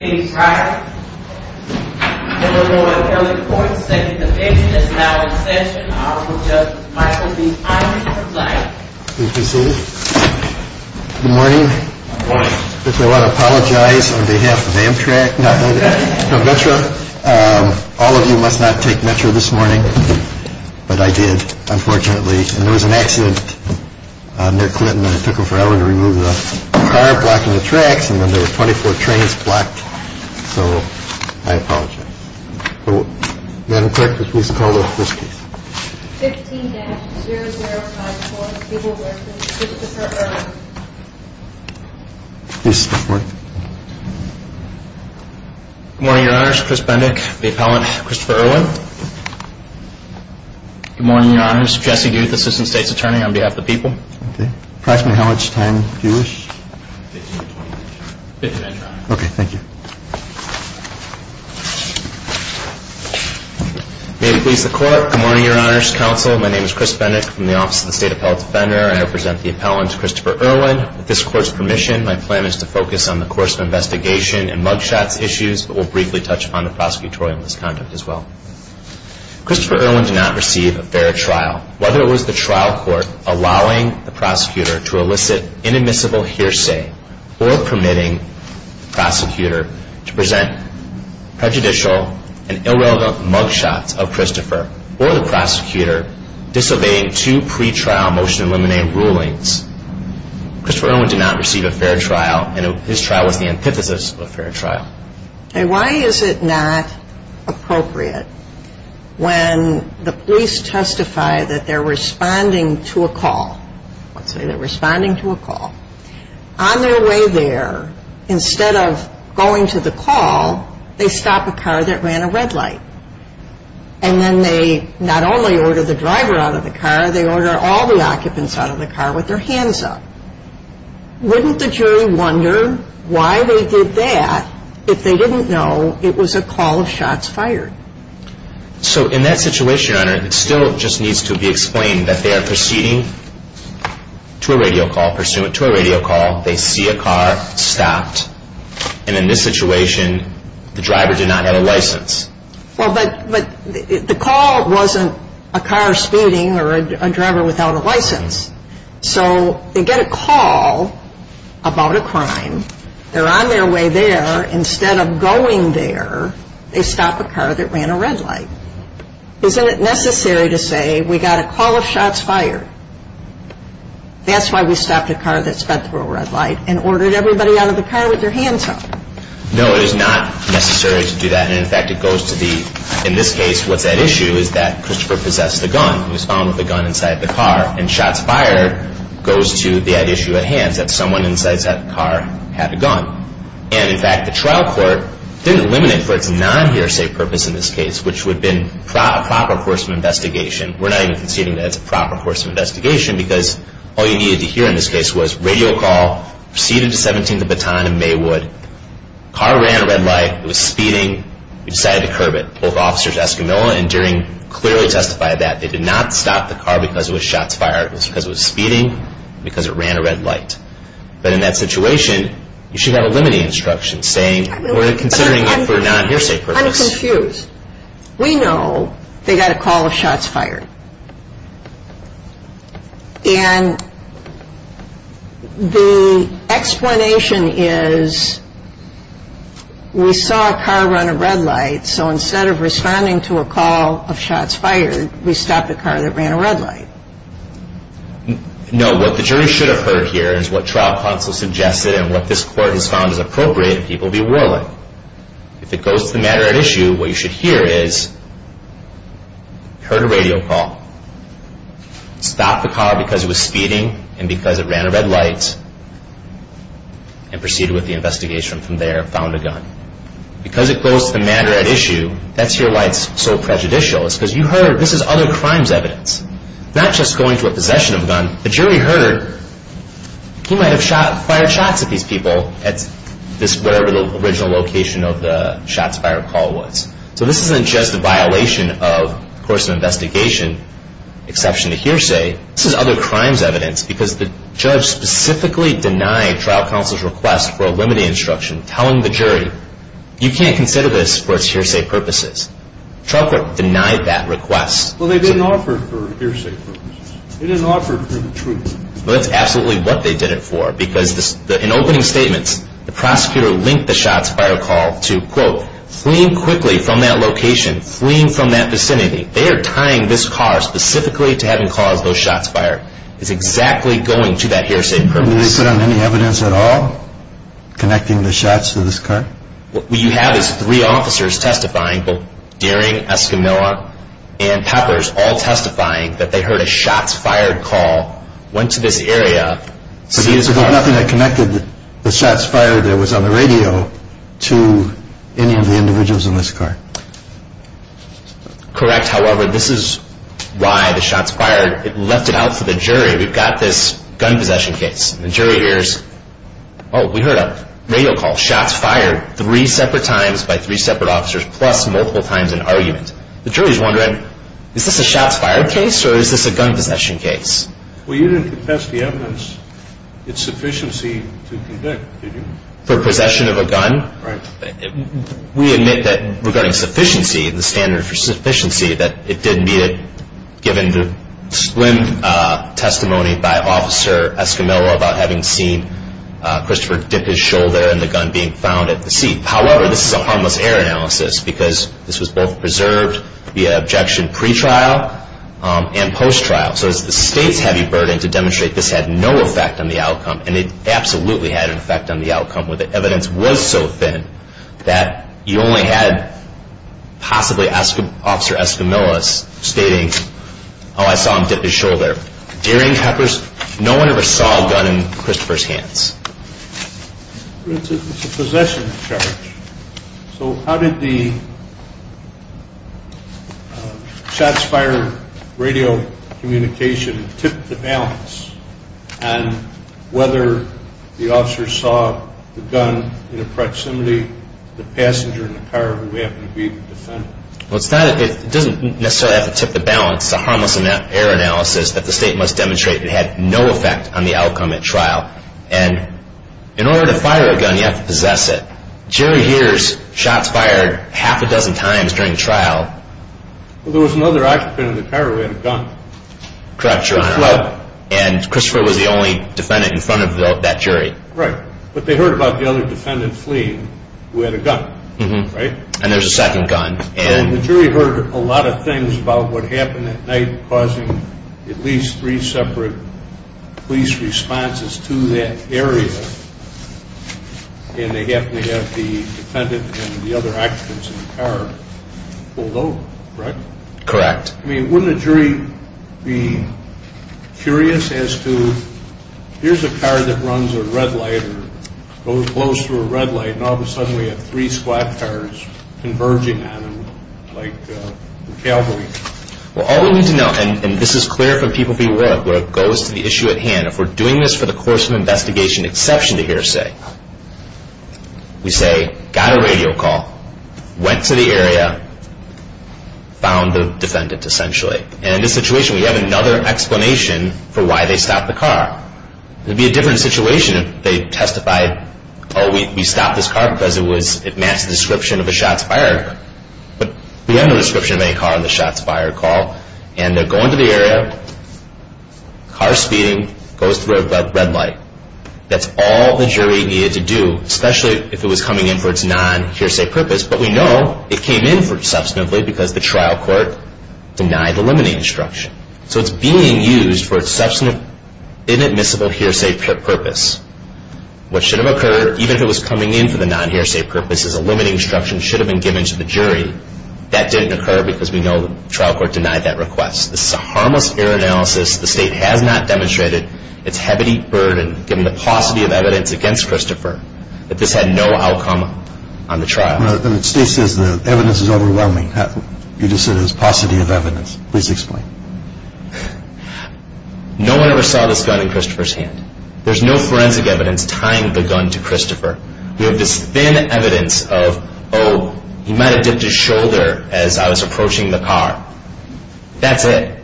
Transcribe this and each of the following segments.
is now in session. Honorable Justice Michael B. Irwin, please come to the stage. Good morning. If I want to apologize on behalf of Amtrak, not Metro, all of you must not take Metro this morning. But I did, unfortunately. And there was an accident near Clinton and it took them forever to remove the car, blocking the tracks, and then there were 24 trains blocked. So I apologize. Madam Clerk, please call the first case. 15-005-4, people working, Christopher Irwin. Please stand by. Good morning, Your Honors. Chris Bendick, the appellant, Christopher Irwin. Good morning, Your Honors. Jesse Guth, Assistant State's Attorney, on behalf of the people. Okay. Approximately how much time do you wish? 15 to 20 minutes. Okay, thank you. May it please the Court, good morning, Your Honors, Counsel. My name is Chris Bendick from the Office of the State Appellate Defender. I represent the appellant, Christopher Irwin. With this Court's permission, my plan is to focus on the course of investigation and mug shots issues, but we'll briefly touch upon the prosecutorial misconduct as well. Christopher Irwin did not receive a fair trial. Whether it was the trial court allowing the prosecutor to elicit inadmissible hearsay or permitting the prosecutor to present prejudicial and irrelevant mug shots of Christopher or the prosecutor disobeying two pretrial motion to eliminate rulings, Christopher Irwin did not receive a fair trial and his trial was the antithesis of a fair trial. Okay, why is it not appropriate when the police testify that they're responding to a call? Let's say they're responding to a call. On their way there, instead of going to the call, they stop a car that ran a red light. And then they not only order the driver out of the car, they order all the occupants out of the car with their hands up. Wouldn't the jury wonder why they did that if they didn't know it was a call of shots fired? So in that situation, Your Honor, it still just needs to be explained that they are proceeding to a radio call, they see a car stopped, and in this situation, the driver did not have a license. Well, but the call wasn't a car speeding or a driver without a license. So they get a call about a crime, they're on their way there. Instead of going there, they stop a car that ran a red light. Isn't it necessary to say we got a call of shots fired? That's why we stopped a car that sped through a red light and ordered everybody out of the car with their hands up. No, it is not necessary to do that. And in fact, it goes to the, in this case, what's at issue is that Christopher possessed a gun. He was found with a gun inside the car, and shots fired goes to the issue at hand, that someone inside that car had a gun. And in fact, the trial court didn't limit it for its non-hearsay purpose in this case, and we're not even conceding that it's a proper course of investigation, because all you needed to hear in this case was radio call, proceeded to 17th and Baton and Maywood, car ran a red light, it was speeding, we decided to curb it. Both officers Escamilla and Deering clearly testified that they did not stop the car because it was shots fired. It was because it was speeding, because it ran a red light. But in that situation, you should have a limiting instruction saying we're considering it for a non-hearsay purpose. I'm confused. We know they got a call of shots fired. And the explanation is we saw a car run a red light, so instead of responding to a call of shots fired, we stopped the car that ran a red light. No, what the jury should have heard here is what trial counsel suggested and what this court has found is appropriate and people be willing. If it goes to the matter at issue, what you should hear is heard a radio call, stopped the car because it was speeding and because it ran a red light, and proceeded with the investigation from there, found a gun. Because it goes to the matter at issue, that's here why it's so prejudicial. It's because you heard this is other crimes evidence, not just going to a possession of a gun. The jury heard he might have fired shots at these people at this, wherever the original location of the shots fired call was. So this isn't just a violation of the course of investigation, exception to hearsay. This is other crimes evidence because the judge specifically denied trial counsel's request for a limiting instruction telling the jury you can't consider this for its hearsay purposes. Trial court denied that request. Well, they didn't offer it for hearsay purposes. They didn't offer it for the truth. Well, that's absolutely what they did it for because in opening statements, the prosecutor linked the shots fired call to, quote, fleeing quickly from that location, fleeing from that vicinity. They are tying this car specifically to having caused those shots fired. It's exactly going to that hearsay purpose. Do they sit on any evidence at all connecting the shots to this car? What you have is three officers testifying, both Dearing, Escamilla, and Peppers, all testifying that they heard a shots fired call, went to this area, see this car. So there's nothing that connected the shots fired that was on the radio to any of the individuals in this car. Correct. However, this is why the shots fired, it left it out for the jury. We've got this gun possession case. The jury hears, oh, we heard a radio call, shots fired, three separate times by three separate officers plus multiple times in argument. The jury is wondering, is this a shots fired case or is this a gun possession case? Well, you didn't confess the evidence. It's sufficiency to convict, did you? For possession of a gun? Right. We admit that regarding sufficiency, the standard for sufficiency, that it did meet it given the splendid testimony by Officer Escamilla about having seen Christopher dip his shoulder and the gun being found at the scene. However, this is a harmless error analysis because this was both preserved via objection pretrial and post-trial. So it's the state's heavy burden to demonstrate this had no effect on the outcome and it absolutely had an effect on the outcome where the evidence was so thin that you only had possibly Officer Escamilla stating, oh, I saw him dip his shoulder. During Huckers, no one ever saw a gun in Christopher's hands. It's a possession charge. So how did the shots fired radio communication tip the balance on whether the officer saw the gun in the proximity of the passenger in the car who happened to be the defendant? Well, it doesn't necessarily have to tip the balance. It's a harmless error analysis that the state must demonstrate that it had no effect on the outcome at trial. And in order to fire a gun, you have to possess it. The jury hears shots fired half a dozen times during trial. Well, there was another occupant in the car who had a gun. Correct, Your Honor. And Christopher was the only defendant in front of that jury. Right. But they heard about the other defendant fleeing who had a gun, right? And there's a second gun. The jury heard a lot of things about what happened at night causing at least three separate police responses to that area and they definitely have the defendant and the other occupants in the car pulled over, correct? Correct. I mean, wouldn't a jury be curious as to, here's a car that runs a red light or goes through a red light and all of a sudden we have three squad cars converging on them like a cavalry? Well, all we need to know, and this is clear for people to be aware of, where it goes to the issue at hand, if we're doing this for the course of investigation exception to hearsay, we say got a radio call, went to the area, found the defendant essentially. And in this situation we have another explanation for why they stopped the car. It would be a different situation if they testified, oh, we stopped this car because it matched the description of a shots fired. But we have no description of any car on the shots fired call and they're going to the area, car speeding, goes through a red light. That's all the jury needed to do, especially if it was coming in for its non-hearsay purpose. But we know it came in substantively because the trial court denied the limiting instruction. So it's being used for its substantive inadmissible hearsay purpose. What should have occurred, even if it was coming in for the non-hearsay purpose, is a limiting instruction should have been given to the jury. That didn't occur because we know the trial court denied that request. This is a harmless error analysis. The state has not demonstrated its heavy burden, given the paucity of evidence against Christopher, that this had no outcome on the trial. The state says the evidence is overwhelming. You just said it was paucity of evidence. Please explain. No one ever saw this gun in Christopher's hand. There's no forensic evidence tying the gun to Christopher. We have this thin evidence of, oh, he might have dipped his shoulder as I was approaching the car. That's it.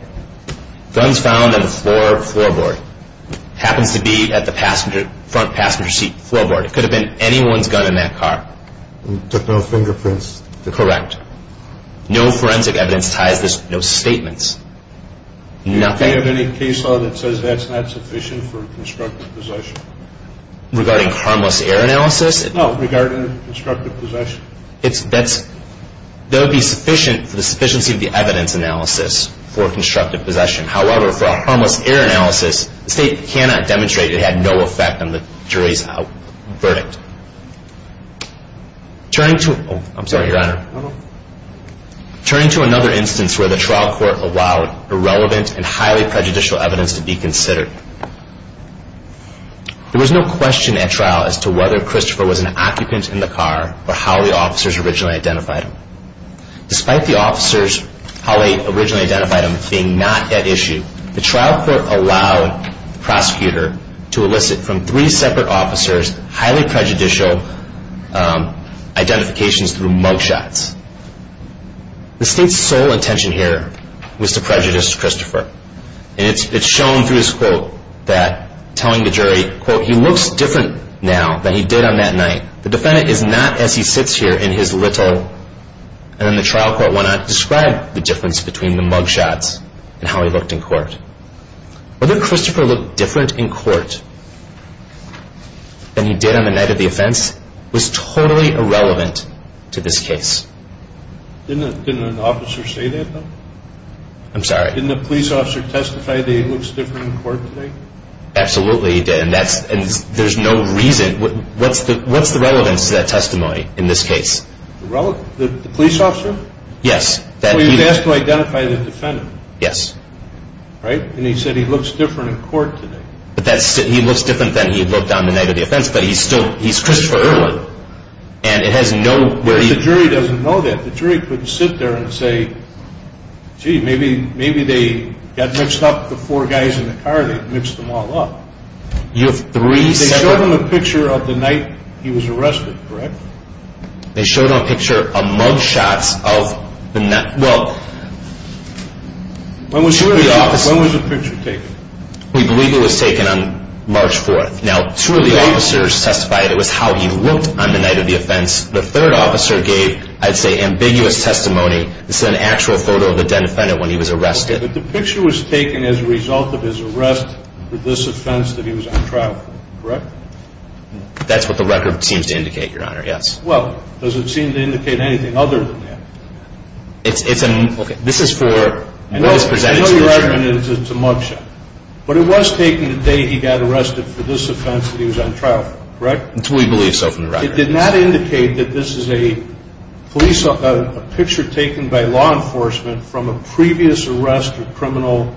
Guns found on the floorboard. Happens to be at the front passenger seat floorboard. It could have been anyone's gun in that car. Took no fingerprints. Correct. No forensic evidence ties this. No statements. Do you have any case law that says that's not sufficient for constructive possession? Regarding harmless error analysis? No, regarding constructive possession. That would be sufficient for the sufficiency of the evidence analysis for constructive possession. However, for a harmless error analysis, the state cannot demonstrate it had no effect on the jury's verdict. Turning to another instance where the trial court allowed irrelevant and highly prejudicial evidence to be considered. There was no question at trial as to whether Christopher was an occupant in the car or how the officers originally identified him. Despite the officers how they originally identified him being not at issue, the trial court allowed the prosecutor to elicit from three separate officers highly prejudicial identifications through mug shots. The state's sole intention here was to prejudice Christopher. And it's shown through this quote that telling the jury, quote, he looks different now than he did on that night. The defendant is not as he sits here in his little. And then the trial court went on to describe the difference between the mug shots and how he looked in court. Whether Christopher looked different in court than he did on the night of the offense was totally irrelevant to this case. Didn't an officer say that though? I'm sorry. Didn't the police officer testify that he looks different in court today? Absolutely he did. And there's no reason. What's the relevance to that testimony in this case? The police officer? Yes. He was asked to identify the defendant. Yes. Right. And he said he looks different in court today. He looks different than he looked on the night of the offense, but he's still Christopher Irwin. And it has no where he. But the jury doesn't know that. The jury couldn't sit there and say, gee, maybe they got mixed up the four guys in the car. They mixed them all up. You have three separate. They showed him a picture of the night he was arrested, correct? They showed him a picture of mug shots of the night. Well, two of the officers. When was the picture taken? We believe it was taken on March 4th. Now, two of the officers testified it was how he looked on the night of the offense. The third officer gave, I'd say, ambiguous testimony. This is an actual photo of the dead defendant when he was arrested. But the picture was taken as a result of his arrest for this offense that he was on trial for, correct? That's what the record seems to indicate, Your Honor, yes. Well, does it seem to indicate anything other than that? This is for what was presented to the jury. I know your argument is it's a mug shot. But it was taken the day he got arrested for this offense that he was on trial for, correct? We believe so from the record. But it did not indicate that this is a picture taken by law enforcement from a previous arrest or criminal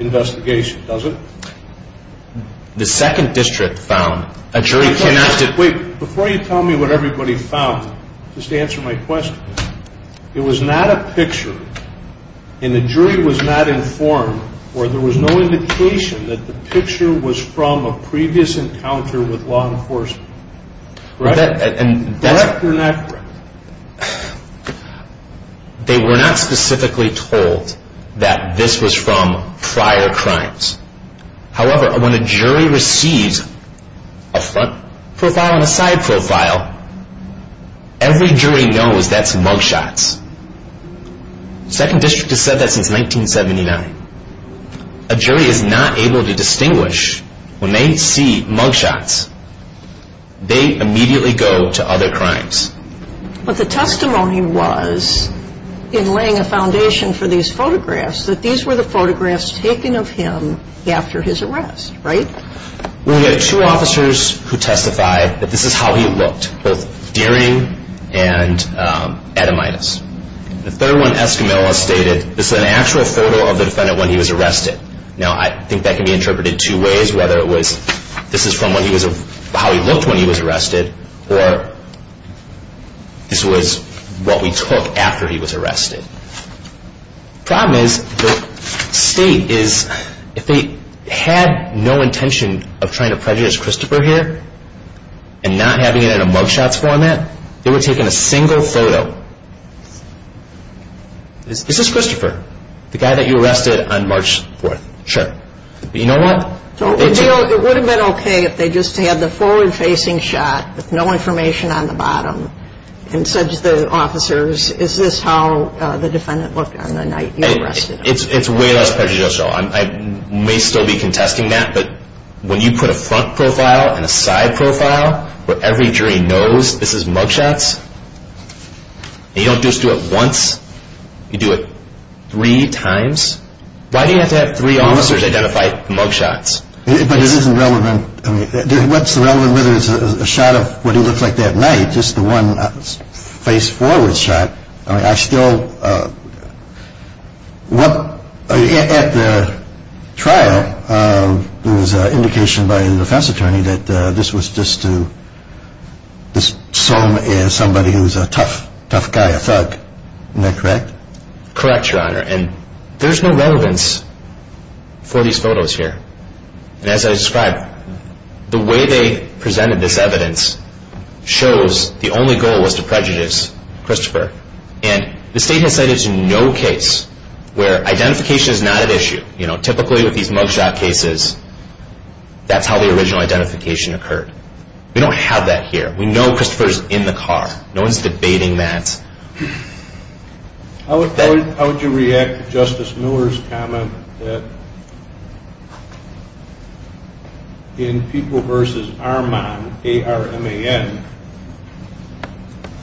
investigation, does it? The second district found. Wait, before you tell me what everybody found, just answer my question. It was not a picture, and the jury was not informed, or there was no indication that the picture was from a previous encounter with law enforcement. Correct or not correct? They were not specifically told that this was from prior crimes. However, when a jury receives a front profile and a side profile, every jury knows that's mug shots. The second district has said that since 1979. A jury is not able to distinguish when they see mug shots. They immediately go to other crimes. But the testimony was, in laying a foundation for these photographs, that these were the photographs taken of him after his arrest, right? We had two officers who testified that this is how he looked, both daring and edemitis. The third one, Escamilla, stated this is an actual photo of the defendant when he was arrested. Now, I think that can be interpreted two ways, whether this is from how he looked when he was arrested, or this was what we took after he was arrested. The problem is, the state is, if they had no intention of trying to prejudice Christopher here, and not having it in a mug shots format, they were taking a single photo. Is this Christopher, the guy that you arrested on March 4th? Sure. But you know what? It would have been okay if they just had the forward-facing shot with no information on the bottom, and said to the officers, is this how the defendant looked on the night you arrested him? It's way less prejudicial. I may still be contesting that, but when you put a front profile and a side profile, where every jury knows this is mug shots, and you don't just do it once, you do it three times, why do you have to have three officers identify mug shots? But it isn't relevant. What's relevant is whether it's a shot of what he looked like that night, just the one face-forward shot. I still, at the trial, there was an indication by the defense attorney that this was just to assume as somebody who's a tough, tough guy, a thug. Isn't that correct? Correct, Your Honor. And there's no relevance for these photos here. And as I described, the way they presented this evidence shows the only goal was to prejudice Christopher. And the state has cited no case where identification is not at issue. Typically with these mug shot cases, that's how the original identification occurred. We don't have that here. We know Christopher's in the car. No one's debating that. How would you react to Justice Miller's comment that in People v. Armand, A-R-M-A-N,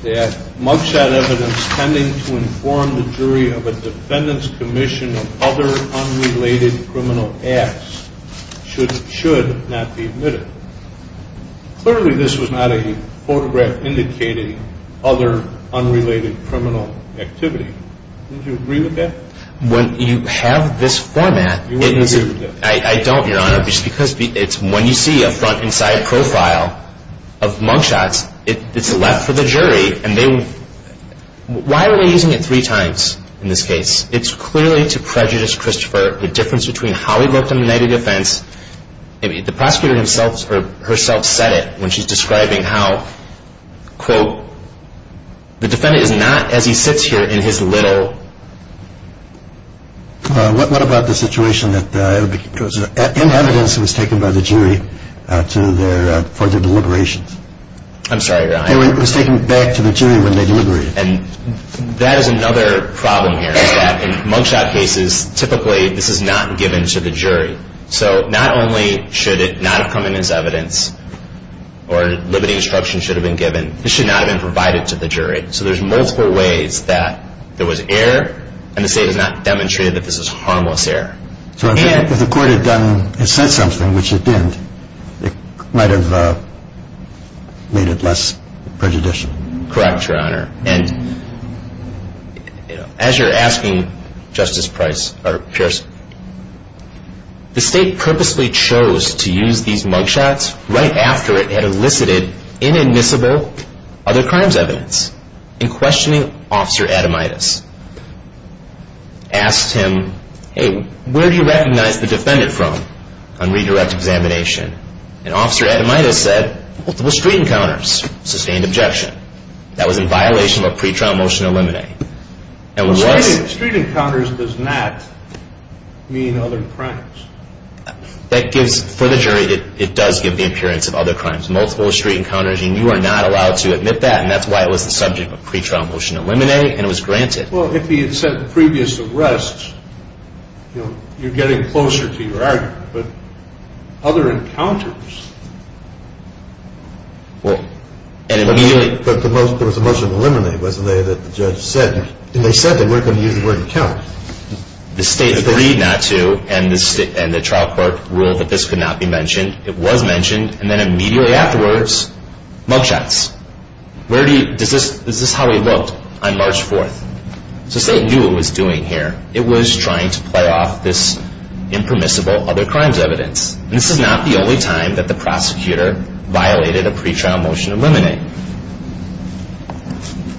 that mug shot evidence tending to inform the jury of a defendant's commission of other unrelated criminal acts should not be admitted? Clearly this was not a photograph indicating other unrelated criminal activity. Would you agree with that? When you have this format, I don't, Your Honor, because when you see a front and side profile of mug shots, it's left for the jury. Why are they using it three times in this case? It's clearly to prejudice Christopher. The difference between how he looked on the night of defense, the prosecutor herself said it when she's describing how, quote, the defendant is not as he sits here in his little. What about the situation that in evidence was taken by the jury for their deliberations? I'm sorry, Your Honor. It was taken back to the jury when they deliberated. That is another problem here is that in mug shot cases, typically this is not given to the jury. So not only should it not have come in as evidence or limiting instruction should have been given, it should not have been provided to the jury. So there's multiple ways that there was error, and the state has not demonstrated that this is harmless error. So if the court had said something which it didn't, it might have made it less prejudicial. Correct, Your Honor. And as you're asking Justice Price or Pierson, the state purposely chose to use these mug shots right after it had elicited inadmissible other crimes evidence in questioning Officer Adamidas. Asked him, hey, where do you recognize the defendant from on redirect examination? And Officer Adamidas said, well, it was street encounters, sustained objection. That was in violation of a pretrial motion to eliminate. Street encounters does not mean other crimes. For the jury, it does give the appearance of other crimes. Multiple street encounters, and you are not allowed to admit that, and that's why it was the subject of a pretrial motion to eliminate, and it was granted. Well, if he had said previous arrests, you're getting closer to your argument. But other encounters. But it was a motion to eliminate, wasn't it, that the judge said? And they said they weren't going to use the word encounter. The state agreed not to, and the trial court ruled that this could not be mentioned. It was mentioned, and then immediately afterwards, mug shots. Is this how it looked on March 4th? So the state knew what it was doing here. It was trying to play off this impermissible other crimes evidence. This is not the only time that the prosecutor violated a pretrial motion to eliminate.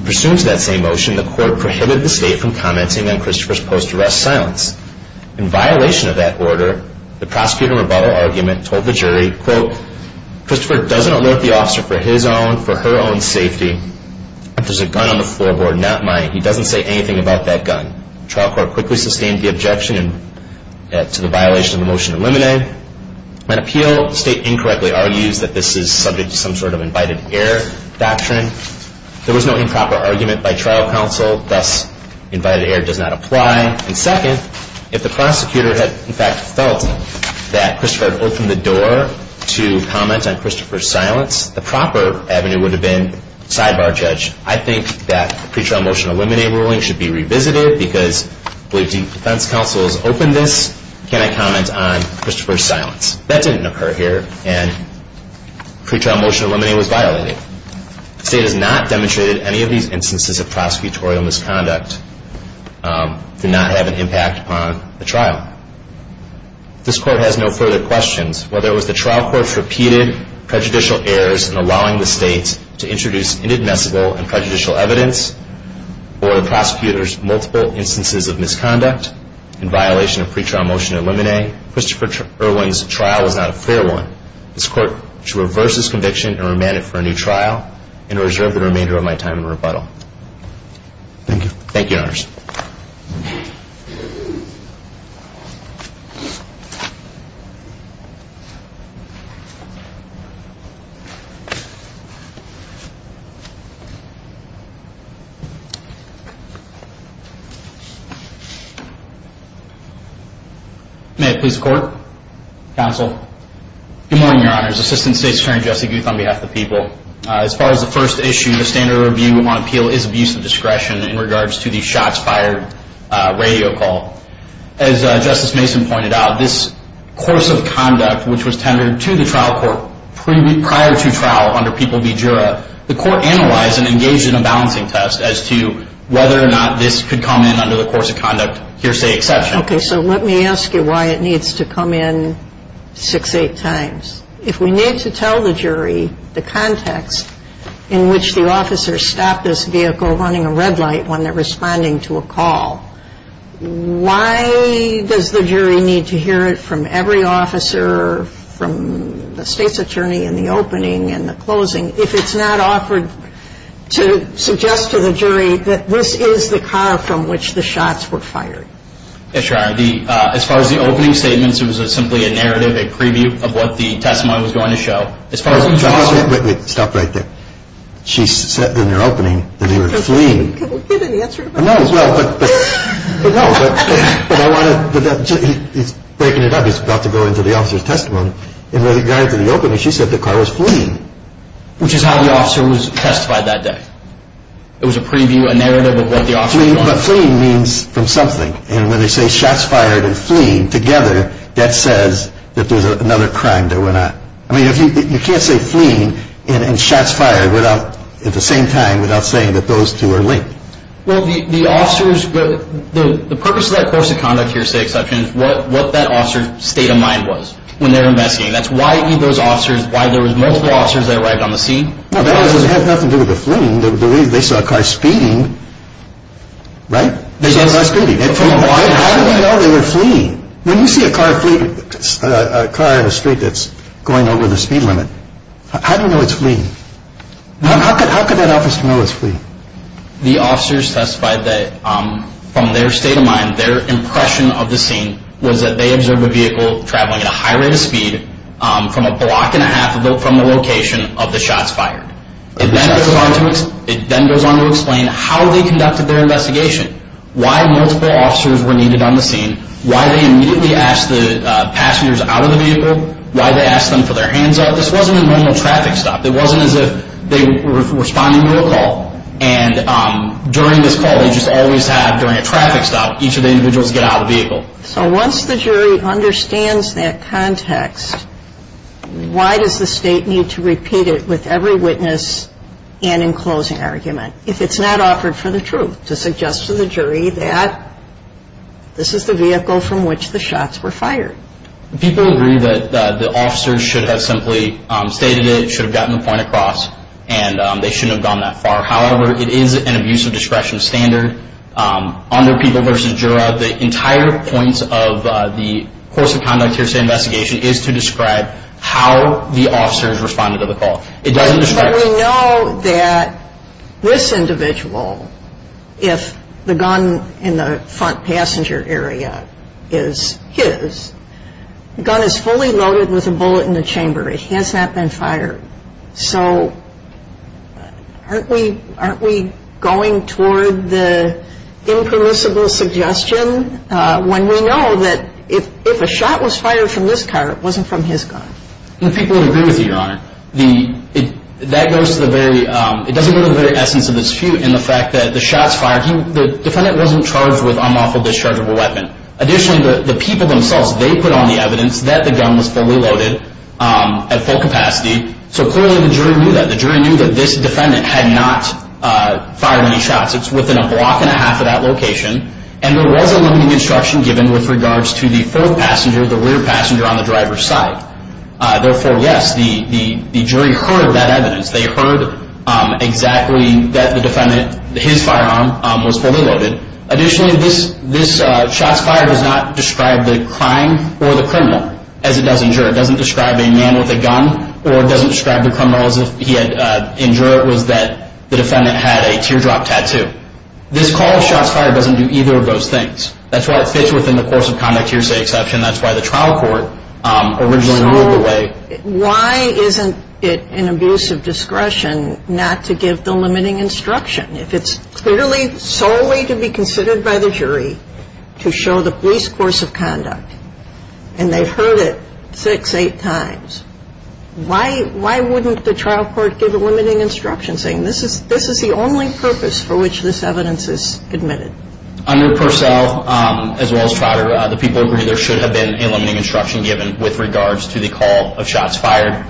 Pursuant to that same motion, the court prohibited the state from commenting on Christopher's post-arrest silence. In violation of that order, the prosecutor rebuttal argument told the jury, quote, Christopher doesn't alert the officer for his own, for her own safety. He doesn't say anything about that gun. Trial court quickly sustained the objection to the violation of the motion to eliminate. When appealed, the state incorrectly argues that this is subject to some sort of invited air doctrine. There was no improper argument by trial counsel. Thus, invited air does not apply. And second, if the prosecutor had, in fact, felt that Christopher had opened the door to comment on Christopher's silence, the proper avenue would have been sidebar judge. I think that the pretrial motion to eliminate ruling should be revisited because defense counsel has opened this. Can I comment on Christopher's silence? That didn't occur here, and pretrial motion to eliminate was violated. The state has not demonstrated any of these instances of prosecutorial misconduct do not have an impact upon the trial. This court has no further questions. Whether it was the trial court's repeated prejudicial errors in allowing the state to introduce inadmissible and prejudicial evidence or the prosecutor's multiple instances of misconduct in violation of pretrial motion to eliminate, Christopher Irwin's trial was not a fair one. This court should reverse its conviction and remand it for a new trial and reserve the remainder of my time in rebuttal. Thank you. Thank you, Your Honors. Thank you. May I please record? Counsel. Good morning, Your Honors. Assistant State's Attorney Jesse Guth on behalf of the people. As far as the first issue, the standard of review on appeal is abuse of discretion in regards to the shots fired radio call. As Justice Mason pointed out, this course of conduct, which was tendered to the trial court prior to trial under people v. Jura, the court analyzed and engaged in a balancing test as to whether or not this could come in under the course of conduct hearsay exception. Okay. So let me ask you why it needs to come in six, eight times. If we need to tell the jury the context in which the officer stopped this vehicle running a red light when they're responding to a call, why does the jury need to hear it from every officer, from the State's Attorney in the opening and the closing, if it's not offered to suggest to the jury that this is the car from which the shots were fired? Yes, Your Honor. As far as the opening statements, it was simply a narrative, a preview of what the testimony was going to show. Wait, wait. Stop right there. She said in the opening that they were fleeing. Can we get an answer to that? No, but I want to, he's breaking it up. He's about to go into the officer's testimony. In regard to the opening, she said the car was fleeing. Which is how the officer was testified that day. It was a preview, a narrative of what the officer was doing. But fleeing means from something. And when they say shots fired and fleeing together, that says that there's another crime that went on. I mean, you can't say fleeing and shots fired at the same time without saying that those two are linked. Well, the officers, the purpose of that course of conduct here, State Exception, is what that officer's state of mind was when they were investigating. That's why there were multiple officers that arrived on the scene. Well, that has nothing to do with the fleeing. They saw a car speeding, right? How do we know they were fleeing? When you see a car in the street that's going over the speed limit, how do you know it's fleeing? How could that officer know it's fleeing? The officers testified that from their state of mind, their impression of the scene, was that they observed a vehicle traveling at a high rate of speed from a block and a half from the location of the shots fired. It then goes on to explain how they conducted their investigation. Why multiple officers were needed on the scene, why they immediately asked the passengers out of the vehicle, why they asked them for their hands up. This wasn't a normal traffic stop. It wasn't as if they were responding to a call. And during this call, they just always have, during a traffic stop, each of the individuals get out of the vehicle. So once the jury understands that context, why does the State need to repeat it with every witness and in closing argument? If it's not offered for the truth, to suggest to the jury that this is the vehicle from which the shots were fired. People agree that the officers should have simply stated it, should have gotten the point across, and they shouldn't have gone that far. However, it is an abuse of discretion standard. Under People v. Jura, the entire points of the course of conduct here at State Investigation is to describe how the officers responded to the call. We know that this individual, if the gun in the front passenger area is his, the gun is fully loaded with a bullet in the chamber. It has not been fired. So aren't we going toward the impermissible suggestion when we know that if a shot was fired from this car, it wasn't from his gun? People would agree with you, Your Honor. That goes to the very, it doesn't go to the very essence of the dispute in the fact that the shots fired, the defendant wasn't charged with unlawful discharge of a weapon. Additionally, the people themselves, they put on the evidence that the gun was fully loaded at full capacity. So clearly the jury knew that. The jury knew that this defendant had not fired any shots. It's within a block and a half of that location. And there was a limiting instruction given with regards to the fourth passenger, the rear passenger on the driver's side. Therefore, yes, the jury heard that evidence. They heard exactly that the defendant, his firearm was fully loaded. Additionally, this shots fired does not describe the crime or the criminal as it does in juror. It doesn't describe a man with a gun or it doesn't describe the criminal as if he had injured. It was that the defendant had a teardrop tattoo. This call of shots fired doesn't do either of those things. That's why it fits within the course of conduct hearsay exception. That's why the trial court originally ruled the way. So why isn't it an abuse of discretion not to give the limiting instruction? If it's clearly solely to be considered by the jury to show the police course of conduct and they've heard it six, eight times, why wouldn't the trial court give a limiting instruction saying, this is the only purpose for which this evidence is admitted? Under Purcell, as well as Trotter, the people agree there should have been a limiting instruction given with regards to the call of shots fired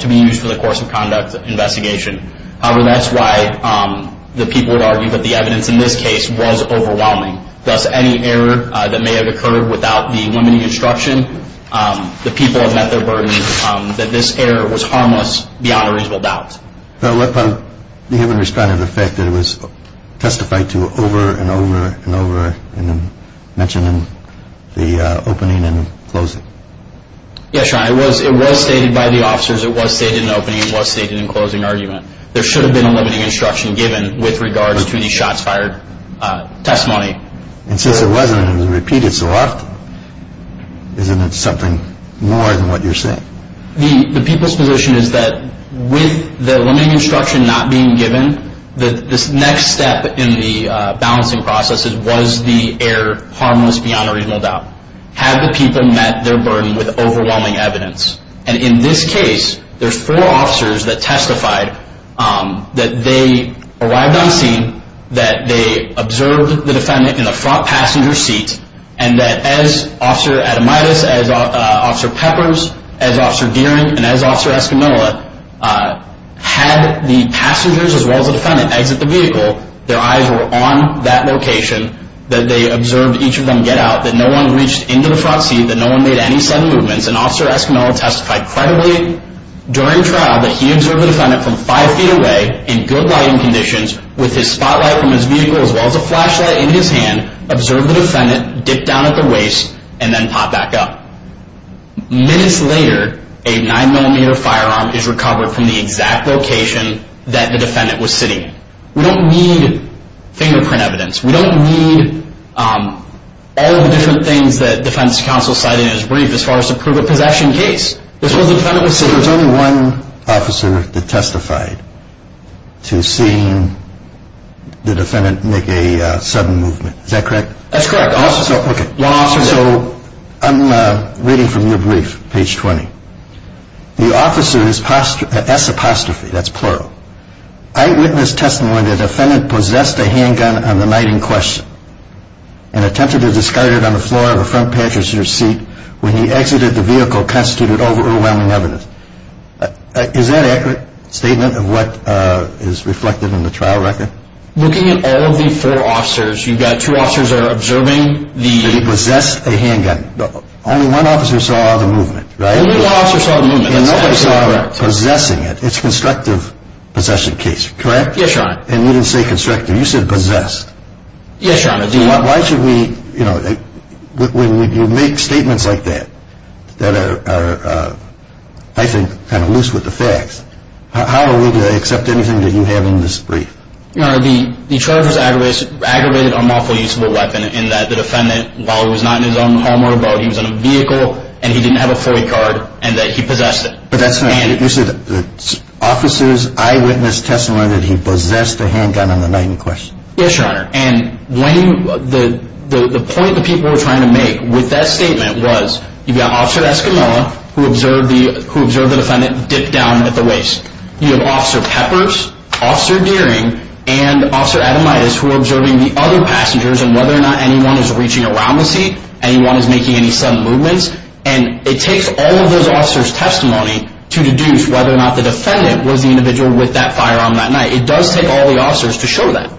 to be used for the course of conduct investigation. However, that's why the people would argue that the evidence in this case was overwhelming. Thus, any error that may have occurred without the limiting instruction, the people have met their burden that this error was harmless beyond a reasonable doubt. You haven't responded to the fact that it was testified to over and over and over and mentioned in the opening and closing. Yes, Your Honor. It was stated by the officers. It was stated in the opening. It was stated in the closing argument. There should have been a limiting instruction given with regards to the shots fired testimony. And since it wasn't, it was repeated so often. Isn't it something more than what you're saying? The people's position is that with the limiting instruction not being given, this next step in the balancing process was the error harmless beyond a reasonable doubt. Had the people met their burden with overwhelming evidence? And in this case, there's four officers that testified that they arrived on scene, that they observed the defendant in the front passenger seat, and that as Officer Ademides, as Officer Peppers, as Officer Deering, and as Officer Escamilla had the passengers as well as the defendant exit the vehicle, their eyes were on that location, that they observed each of them get out, that no one reached into the front seat, that no one made any sudden movements, and Officer Escamilla testified credibly during trial that he observed the defendant from five feet away in good lighting conditions with his spotlight from his vehicle as well as a flashlight in his hand, observed the defendant, dipped down at the waist, and then popped back up. Minutes later, a nine-millimeter firearm is recovered from the exact location that the defendant was sitting. We don't need fingerprint evidence. We don't need all the different things that defense counsel cited in his brief as far as the proof of possession case. This was the defendant was sitting. So there was only one officer that testified to seeing the defendant make a sudden movement. Is that correct? That's correct. Okay. So I'm reading from your brief, page 20. The officer's apostrophe, that's plural, eyewitness testimony, the defendant possessed a handgun on the night in question and attempted to discard it on the floor of the front passenger seat when he exited the vehicle constituted overwhelming evidence. Is that an accurate statement of what is reflected in the trial record? Looking at all of the four officers, you've got two officers that are observing the- That he possessed a handgun. Only one officer saw the movement, right? Only one officer saw the movement. And nobody saw him possessing it. It's constructive possession case, correct? Yes, Your Honor. And you didn't say constructive. You said possessed. Yes, Your Honor. Why should we, you know, when you make statements like that, that are, I think, kind of loose with the facts, how are we to accept anything that you have in this brief? Your Honor, the charge was aggravated unlawful use of a weapon in that the defendant, while he was not in his own home or abode, he was in a vehicle and he didn't have a FOIA card and that he possessed it. But that's not it. You said the officer's eyewitness testimony that he possessed a handgun on the night in question. Yes, Your Honor. And the point that people were trying to make with that statement was, you've got Officer Escamilla who observed the defendant dip down at the waist. You have Officer Peppers, Officer Deering, and Officer Ademitis who are observing the other passengers and whether or not anyone is reaching around the seat, anyone is making any sudden movements. And it takes all of those officers' testimony to deduce whether or not the defendant was the individual with that firearm that night. It does take all the officers to show that.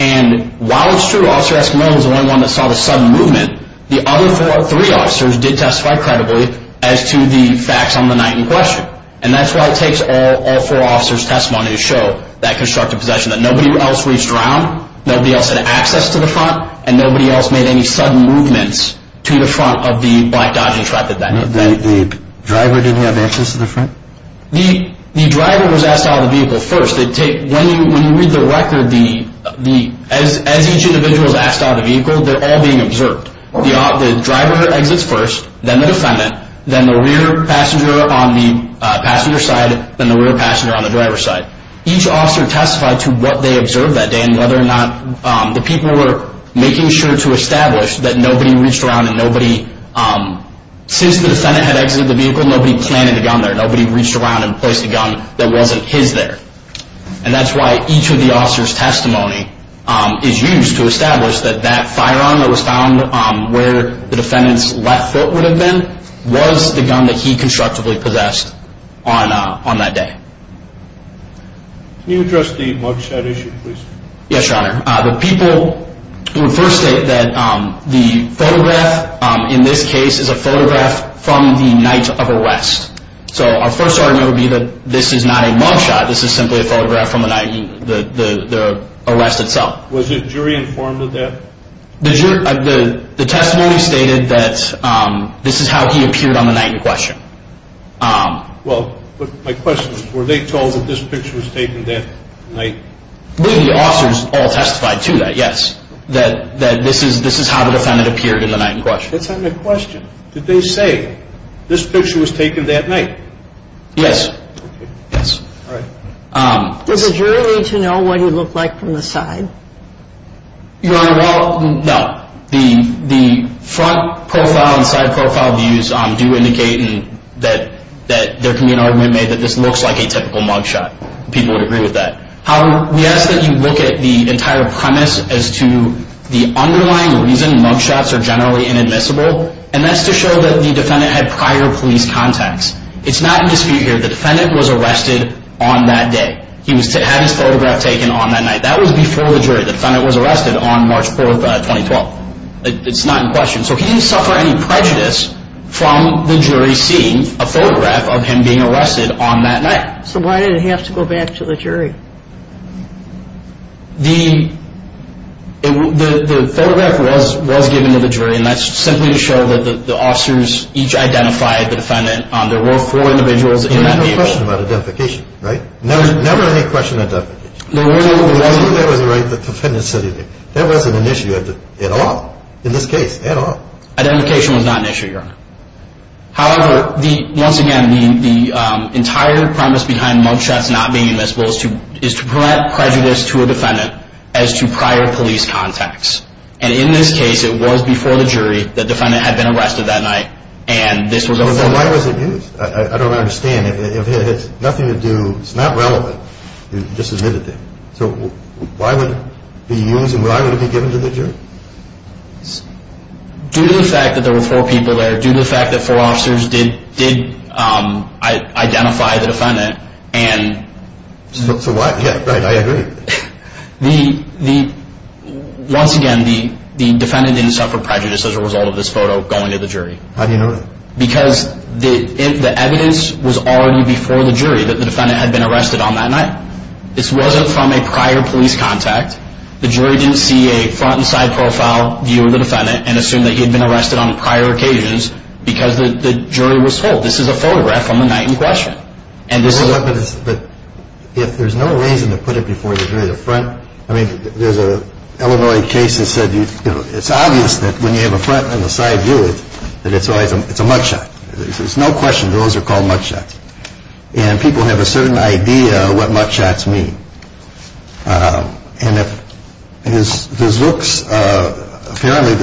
And while it's true Officer Escamilla was the only one that saw the sudden movement, the other three officers did testify credibly as to the facts on the night in question. And that's why it takes all four officers' testimony to show that constructive possession, that nobody else reached around, nobody else had access to the front, and nobody else made any sudden movements to the front of the black Dodging truck that night. The driver didn't have access to the front? The driver was asked out of the vehicle first. When you read the record, as each individual is asked out of the vehicle, they're all being observed. The driver exits first, then the defendant, then the rear passenger on the passenger side, then the rear passenger on the driver's side. Each officer testified to what they observed that day and whether or not the people were making sure to establish that nobody reached around and nobody, since the defendant had exited the vehicle, nobody planted a gun there. And that's why each of the officers' testimony is used to establish that that firearm that was found where the defendant's left foot would have been was the gun that he constructively possessed on that day. Can you address the mugshot issue, please? Yes, Your Honor. The people would first state that the photograph in this case is a photograph from the night of arrest. So our first argument would be that this is not a mugshot, this is simply a photograph from the night of the arrest itself. Was the jury informed of that? The testimony stated that this is how he appeared on the night in question. Well, my question is, were they told that this picture was taken that night? The officers all testified to that, yes, that this is how the defendant appeared in the night in question. That's not my question. Did they say, this picture was taken that night? Yes. All right. Does the jury need to know what he looked like from the side? Your Honor, well, no. The front profile and side profile views do indicate that there can be an argument made that this looks like a typical mugshot. People would agree with that. However, we ask that you look at the entire premise as to the underlying reason mugshots are generally inadmissible, and that's to show that the defendant had prior police contacts. It's not in dispute here. The defendant was arrested on that day. He had his photograph taken on that night. That was before the jury. The defendant was arrested on March 4, 2012. It's not in question. So he didn't suffer any prejudice from the jury seeing a photograph of him being arrested on that night. So why did it have to go back to the jury? The photograph was given to the jury, and that's simply to show that the officers each identified the defendant. There were four individuals in that meeting. There was no question about identification, right? There was never any question of identification. There really wasn't. I think that was the right thing the defendant said. That wasn't an issue at all in this case, at all. Identification was not an issue, Your Honor. However, once again, the entire premise behind mugshots not being inadmissible is to prevent prejudice to a defendant as to prior police contacts. And in this case, it was before the jury. The defendant had been arrested that night, and this was before the jury. So why was it used? I don't understand. It had nothing to do. It's not relevant. You just admitted it. So why would it be used, and why would it be given to the jury? Due to the fact that there were four people there, due to the fact that four officers did identify the defendant. So why? Yeah, right, I agree. Once again, the defendant didn't suffer prejudice as a result of this photo going to the jury. How do you know that? Because the evidence was already before the jury that the defendant had been arrested on that night. This wasn't from a prior police contact. The jury didn't see a front and side profile view of the defendant and assume that he had been arrested on prior occasions because the jury was told. This is a photograph from the night in question. But if there's no reason to put it before the jury, the front. I mean, there's an Illinois case that said, it's obvious that when you have a front and a side view, that it's a mud shot. There's no question those are called mud shots. And people have a certain idea of what mud shots mean. And it looks apparently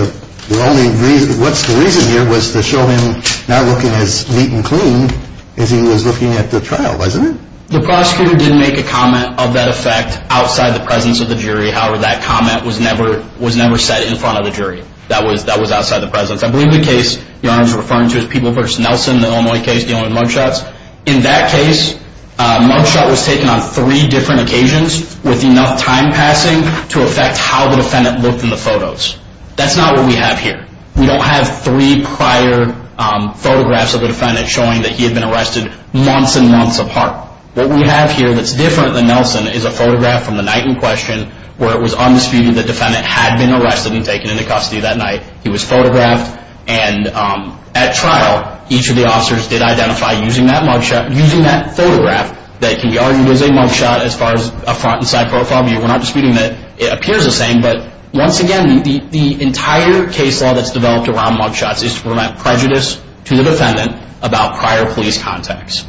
the only reason, what's the reason here was to show him not looking as neat and clean as he was looking at the trial, wasn't it? The prosecutor didn't make a comment of that effect outside the presence of the jury. However, that comment was never set in front of the jury. That was outside the presence. I believe the case you're referring to is People v. Nelson, the Illinois case dealing with mud shots. In that case, mud shot was taken on three different occasions with enough time passing to affect how the defendant looked in the photos. That's not what we have here. We don't have three prior photographs of the defendant showing that he had been arrested months and months apart. What we have here that's different than Nelson is a photograph from the night in question where it was undisputed that the defendant had been arrested and taken into custody that night. He was photographed. And at trial, each of the officers did identify using that mud shot, using that photograph that can be argued as a mud shot as far as a front and side profile view. We're not disputing that it appears the same. But once again, the entire case law that's developed around mud shots is to prevent prejudice to the defendant about prior police contacts.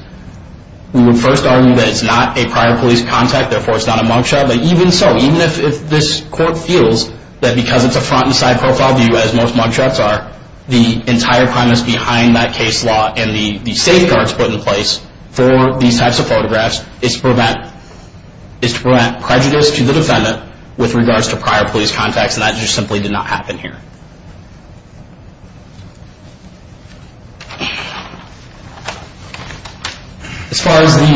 We would first argue that it's not a prior police contact, therefore it's not a mud shot. But even so, even if this court feels that because it's a front and side profile view, as most mud shots are, the entire premise behind that case law and the safeguards put in place for these types of photographs is to prevent prejudice to the defendant with regards to prior police contacts. And that just simply did not happen here. As far as the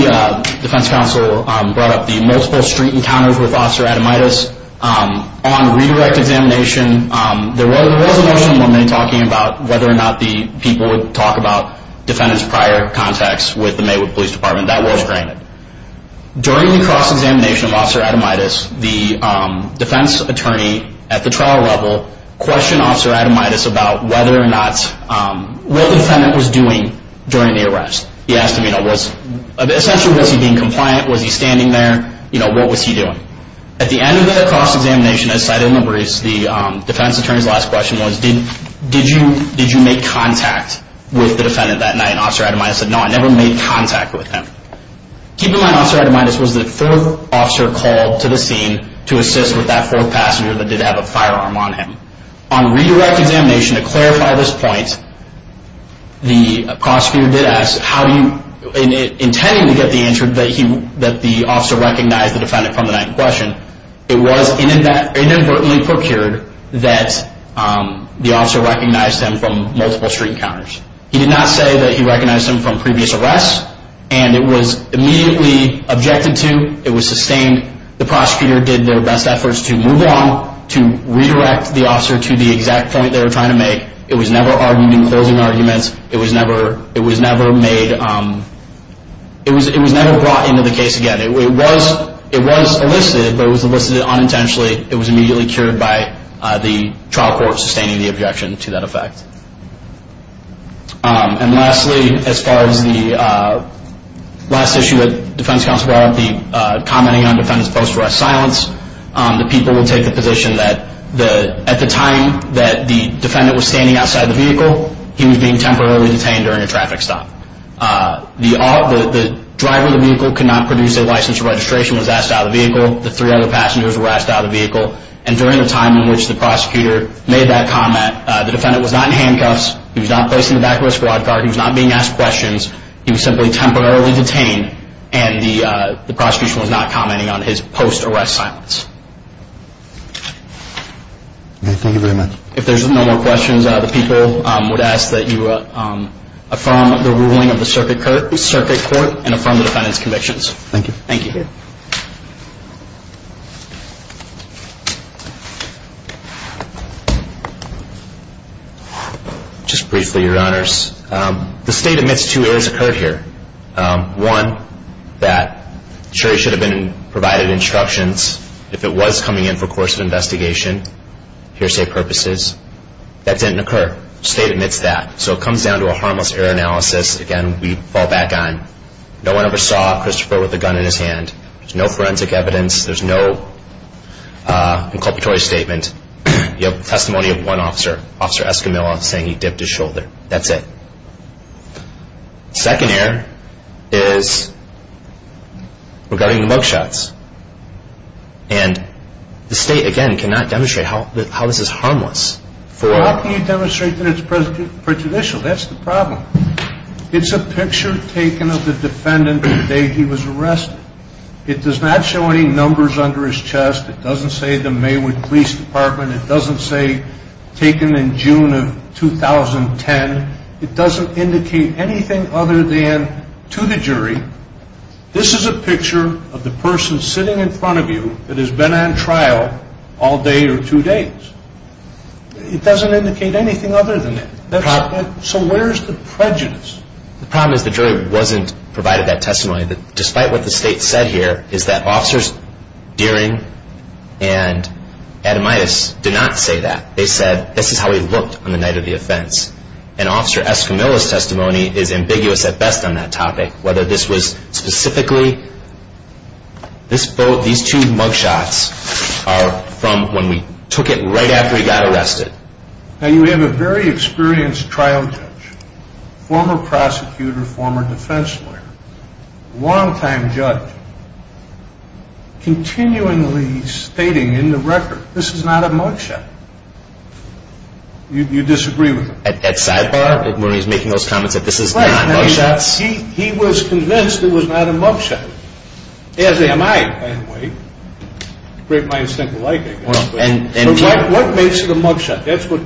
defense counsel brought up, the multiple street encounters with Officer Ademaitis, on redirect examination, there was a motion in one minute talking about whether or not the people would talk about defendant's prior contacts with the Maywood Police Department. That was granted. During the cross-examination of Officer Ademaitis, the defense attorney at the trial level questioned Officer Ademaitis about whether or not what the defendant was doing during the arrest. He asked him, essentially, was he being compliant? Was he standing there? What was he doing? At the end of the cross-examination, as cited in the briefs, the defense attorney's last question was, did you make contact with the defendant that night? And Officer Ademaitis said, no, I never made contact with him. Keep in mind, Officer Ademaitis was the third officer called to the scene to assist with that fourth passenger that did have a firearm on him. On redirect examination, to clarify this point, the prosecutor did ask, intending to get the answer that the officer recognized the defendant from the night in question, it was inadvertently procured that the officer recognized him from multiple street counters. He did not say that he recognized him from previous arrests, and it was immediately objected to. It was sustained. The prosecutor did their best efforts to move on, to redirect the officer to the exact point they were trying to make. It was never argued in closing arguments. It was never brought into the case again. It was elicited, but it was elicited unintentionally. It was immediately cured by the trial court sustaining the objection to that effect. And lastly, as far as the last issue that defense counsel brought up, the commenting on defendant's post-arrest silence, the people will take the position that at the time that the defendant was standing outside the vehicle, he was being temporarily detained during a traffic stop. The driver of the vehicle could not produce a license for registration, was asked out of the vehicle. The three other passengers were asked out of the vehicle. And during the time in which the prosecutor made that comment, the defendant was not in handcuffs. He was not placed in the back of his quad car. He was not being asked questions. He was simply temporarily detained, and the prosecution was not commenting on his post-arrest silence. Thank you very much. If there's no more questions, the people would ask that you affirm the ruling of the circuit court and affirm the defendant's convictions. Thank you. Thank you. Just briefly, Your Honors. The state admits two errors occurred here. One, that the jury should have been provided instructions if it was coming in for course of investigation, hearsay purposes. That didn't occur. The state admits that. So it comes down to a harmless error analysis, again, we fall back on. No one ever saw Christopher with a gun in his hand. There's no forensic evidence. There's no inculpatory statement. You have testimony of one officer, Officer Escamillo, saying he dipped his shoulder. That's it. Second error is regarding mug shots. And the state, again, cannot demonstrate how this is harmless. Well, how can you demonstrate that it's prejudicial? That's the problem. It's a picture taken of the defendant the day he was arrested. It does not show any numbers under his chest. It doesn't say the Maywood Police Department. It doesn't say taken in June of 2010. It doesn't indicate anything other than to the jury, this is a picture of the person sitting in front of you that has been on trial all day or two days. It doesn't indicate anything other than that. So where's the prejudice? The problem is the jury wasn't provided that testimony. Despite what the state said here is that officers Deering and Ademais did not say that. They said this is how he looked on the night of the offense. And Officer Escamilla's testimony is ambiguous at best on that topic, whether this was specifically this boat, these two mug shots are from when we took it right after he got arrested. Now, you have a very experienced trial judge, former prosecutor, former defense lawyer, long-time judge, continually stating in the record, this is not a mug shot. You disagree with him? At sidebar when he's making those comments that this is not mug shots? He was convinced it was not a mug shot. As am I, by the way. Great minds think alike, I guess. What makes it a mug shot? That's what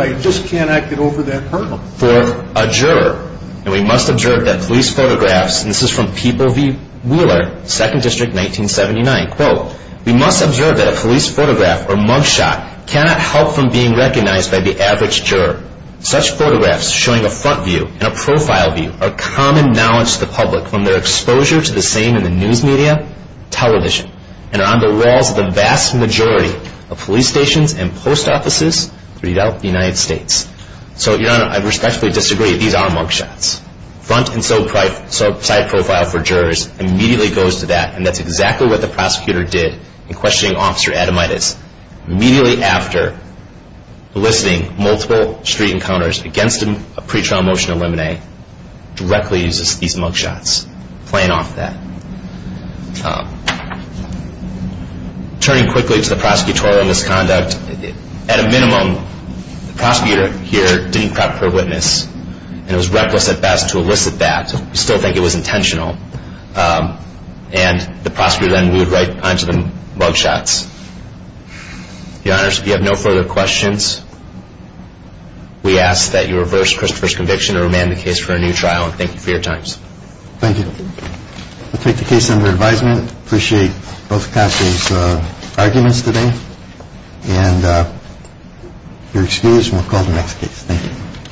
I just cannot get over that hurdle. For a juror, we must observe that police photographs, and this is from People v. Wheeler, 2nd District, 1979, we must observe that a police photograph or mug shot cannot help from being recognized by the average juror. Such photographs showing a front view and a profile view are common knowledge to the public from their exposure to the same in the news media, television, and are on the walls of the vast majority of police stations and post offices throughout the United States. So, Your Honor, I respectfully disagree. These are mug shots. Front and side profile for jurors immediately goes to that, and that's exactly what the prosecutor did in questioning Officer Ademides. Immediately after eliciting multiple street encounters against a pre-trial motion to eliminate, directly uses these mug shots, playing off that. Turning quickly to the prosecutorial misconduct, at a minimum, the prosecutor here didn't prep her witness, and it was reckless at best to elicit that. We still think it was intentional. And the prosecutor then moved right onto the mug shots. Your Honors, if you have no further questions, we ask that you reverse Christopher's conviction and remand the case for a new trial. Thank you for your time. Thank you. We'll take the case under advisement. Appreciate both countries' arguments today. And you're excused, and we'll call the next case. Thank you.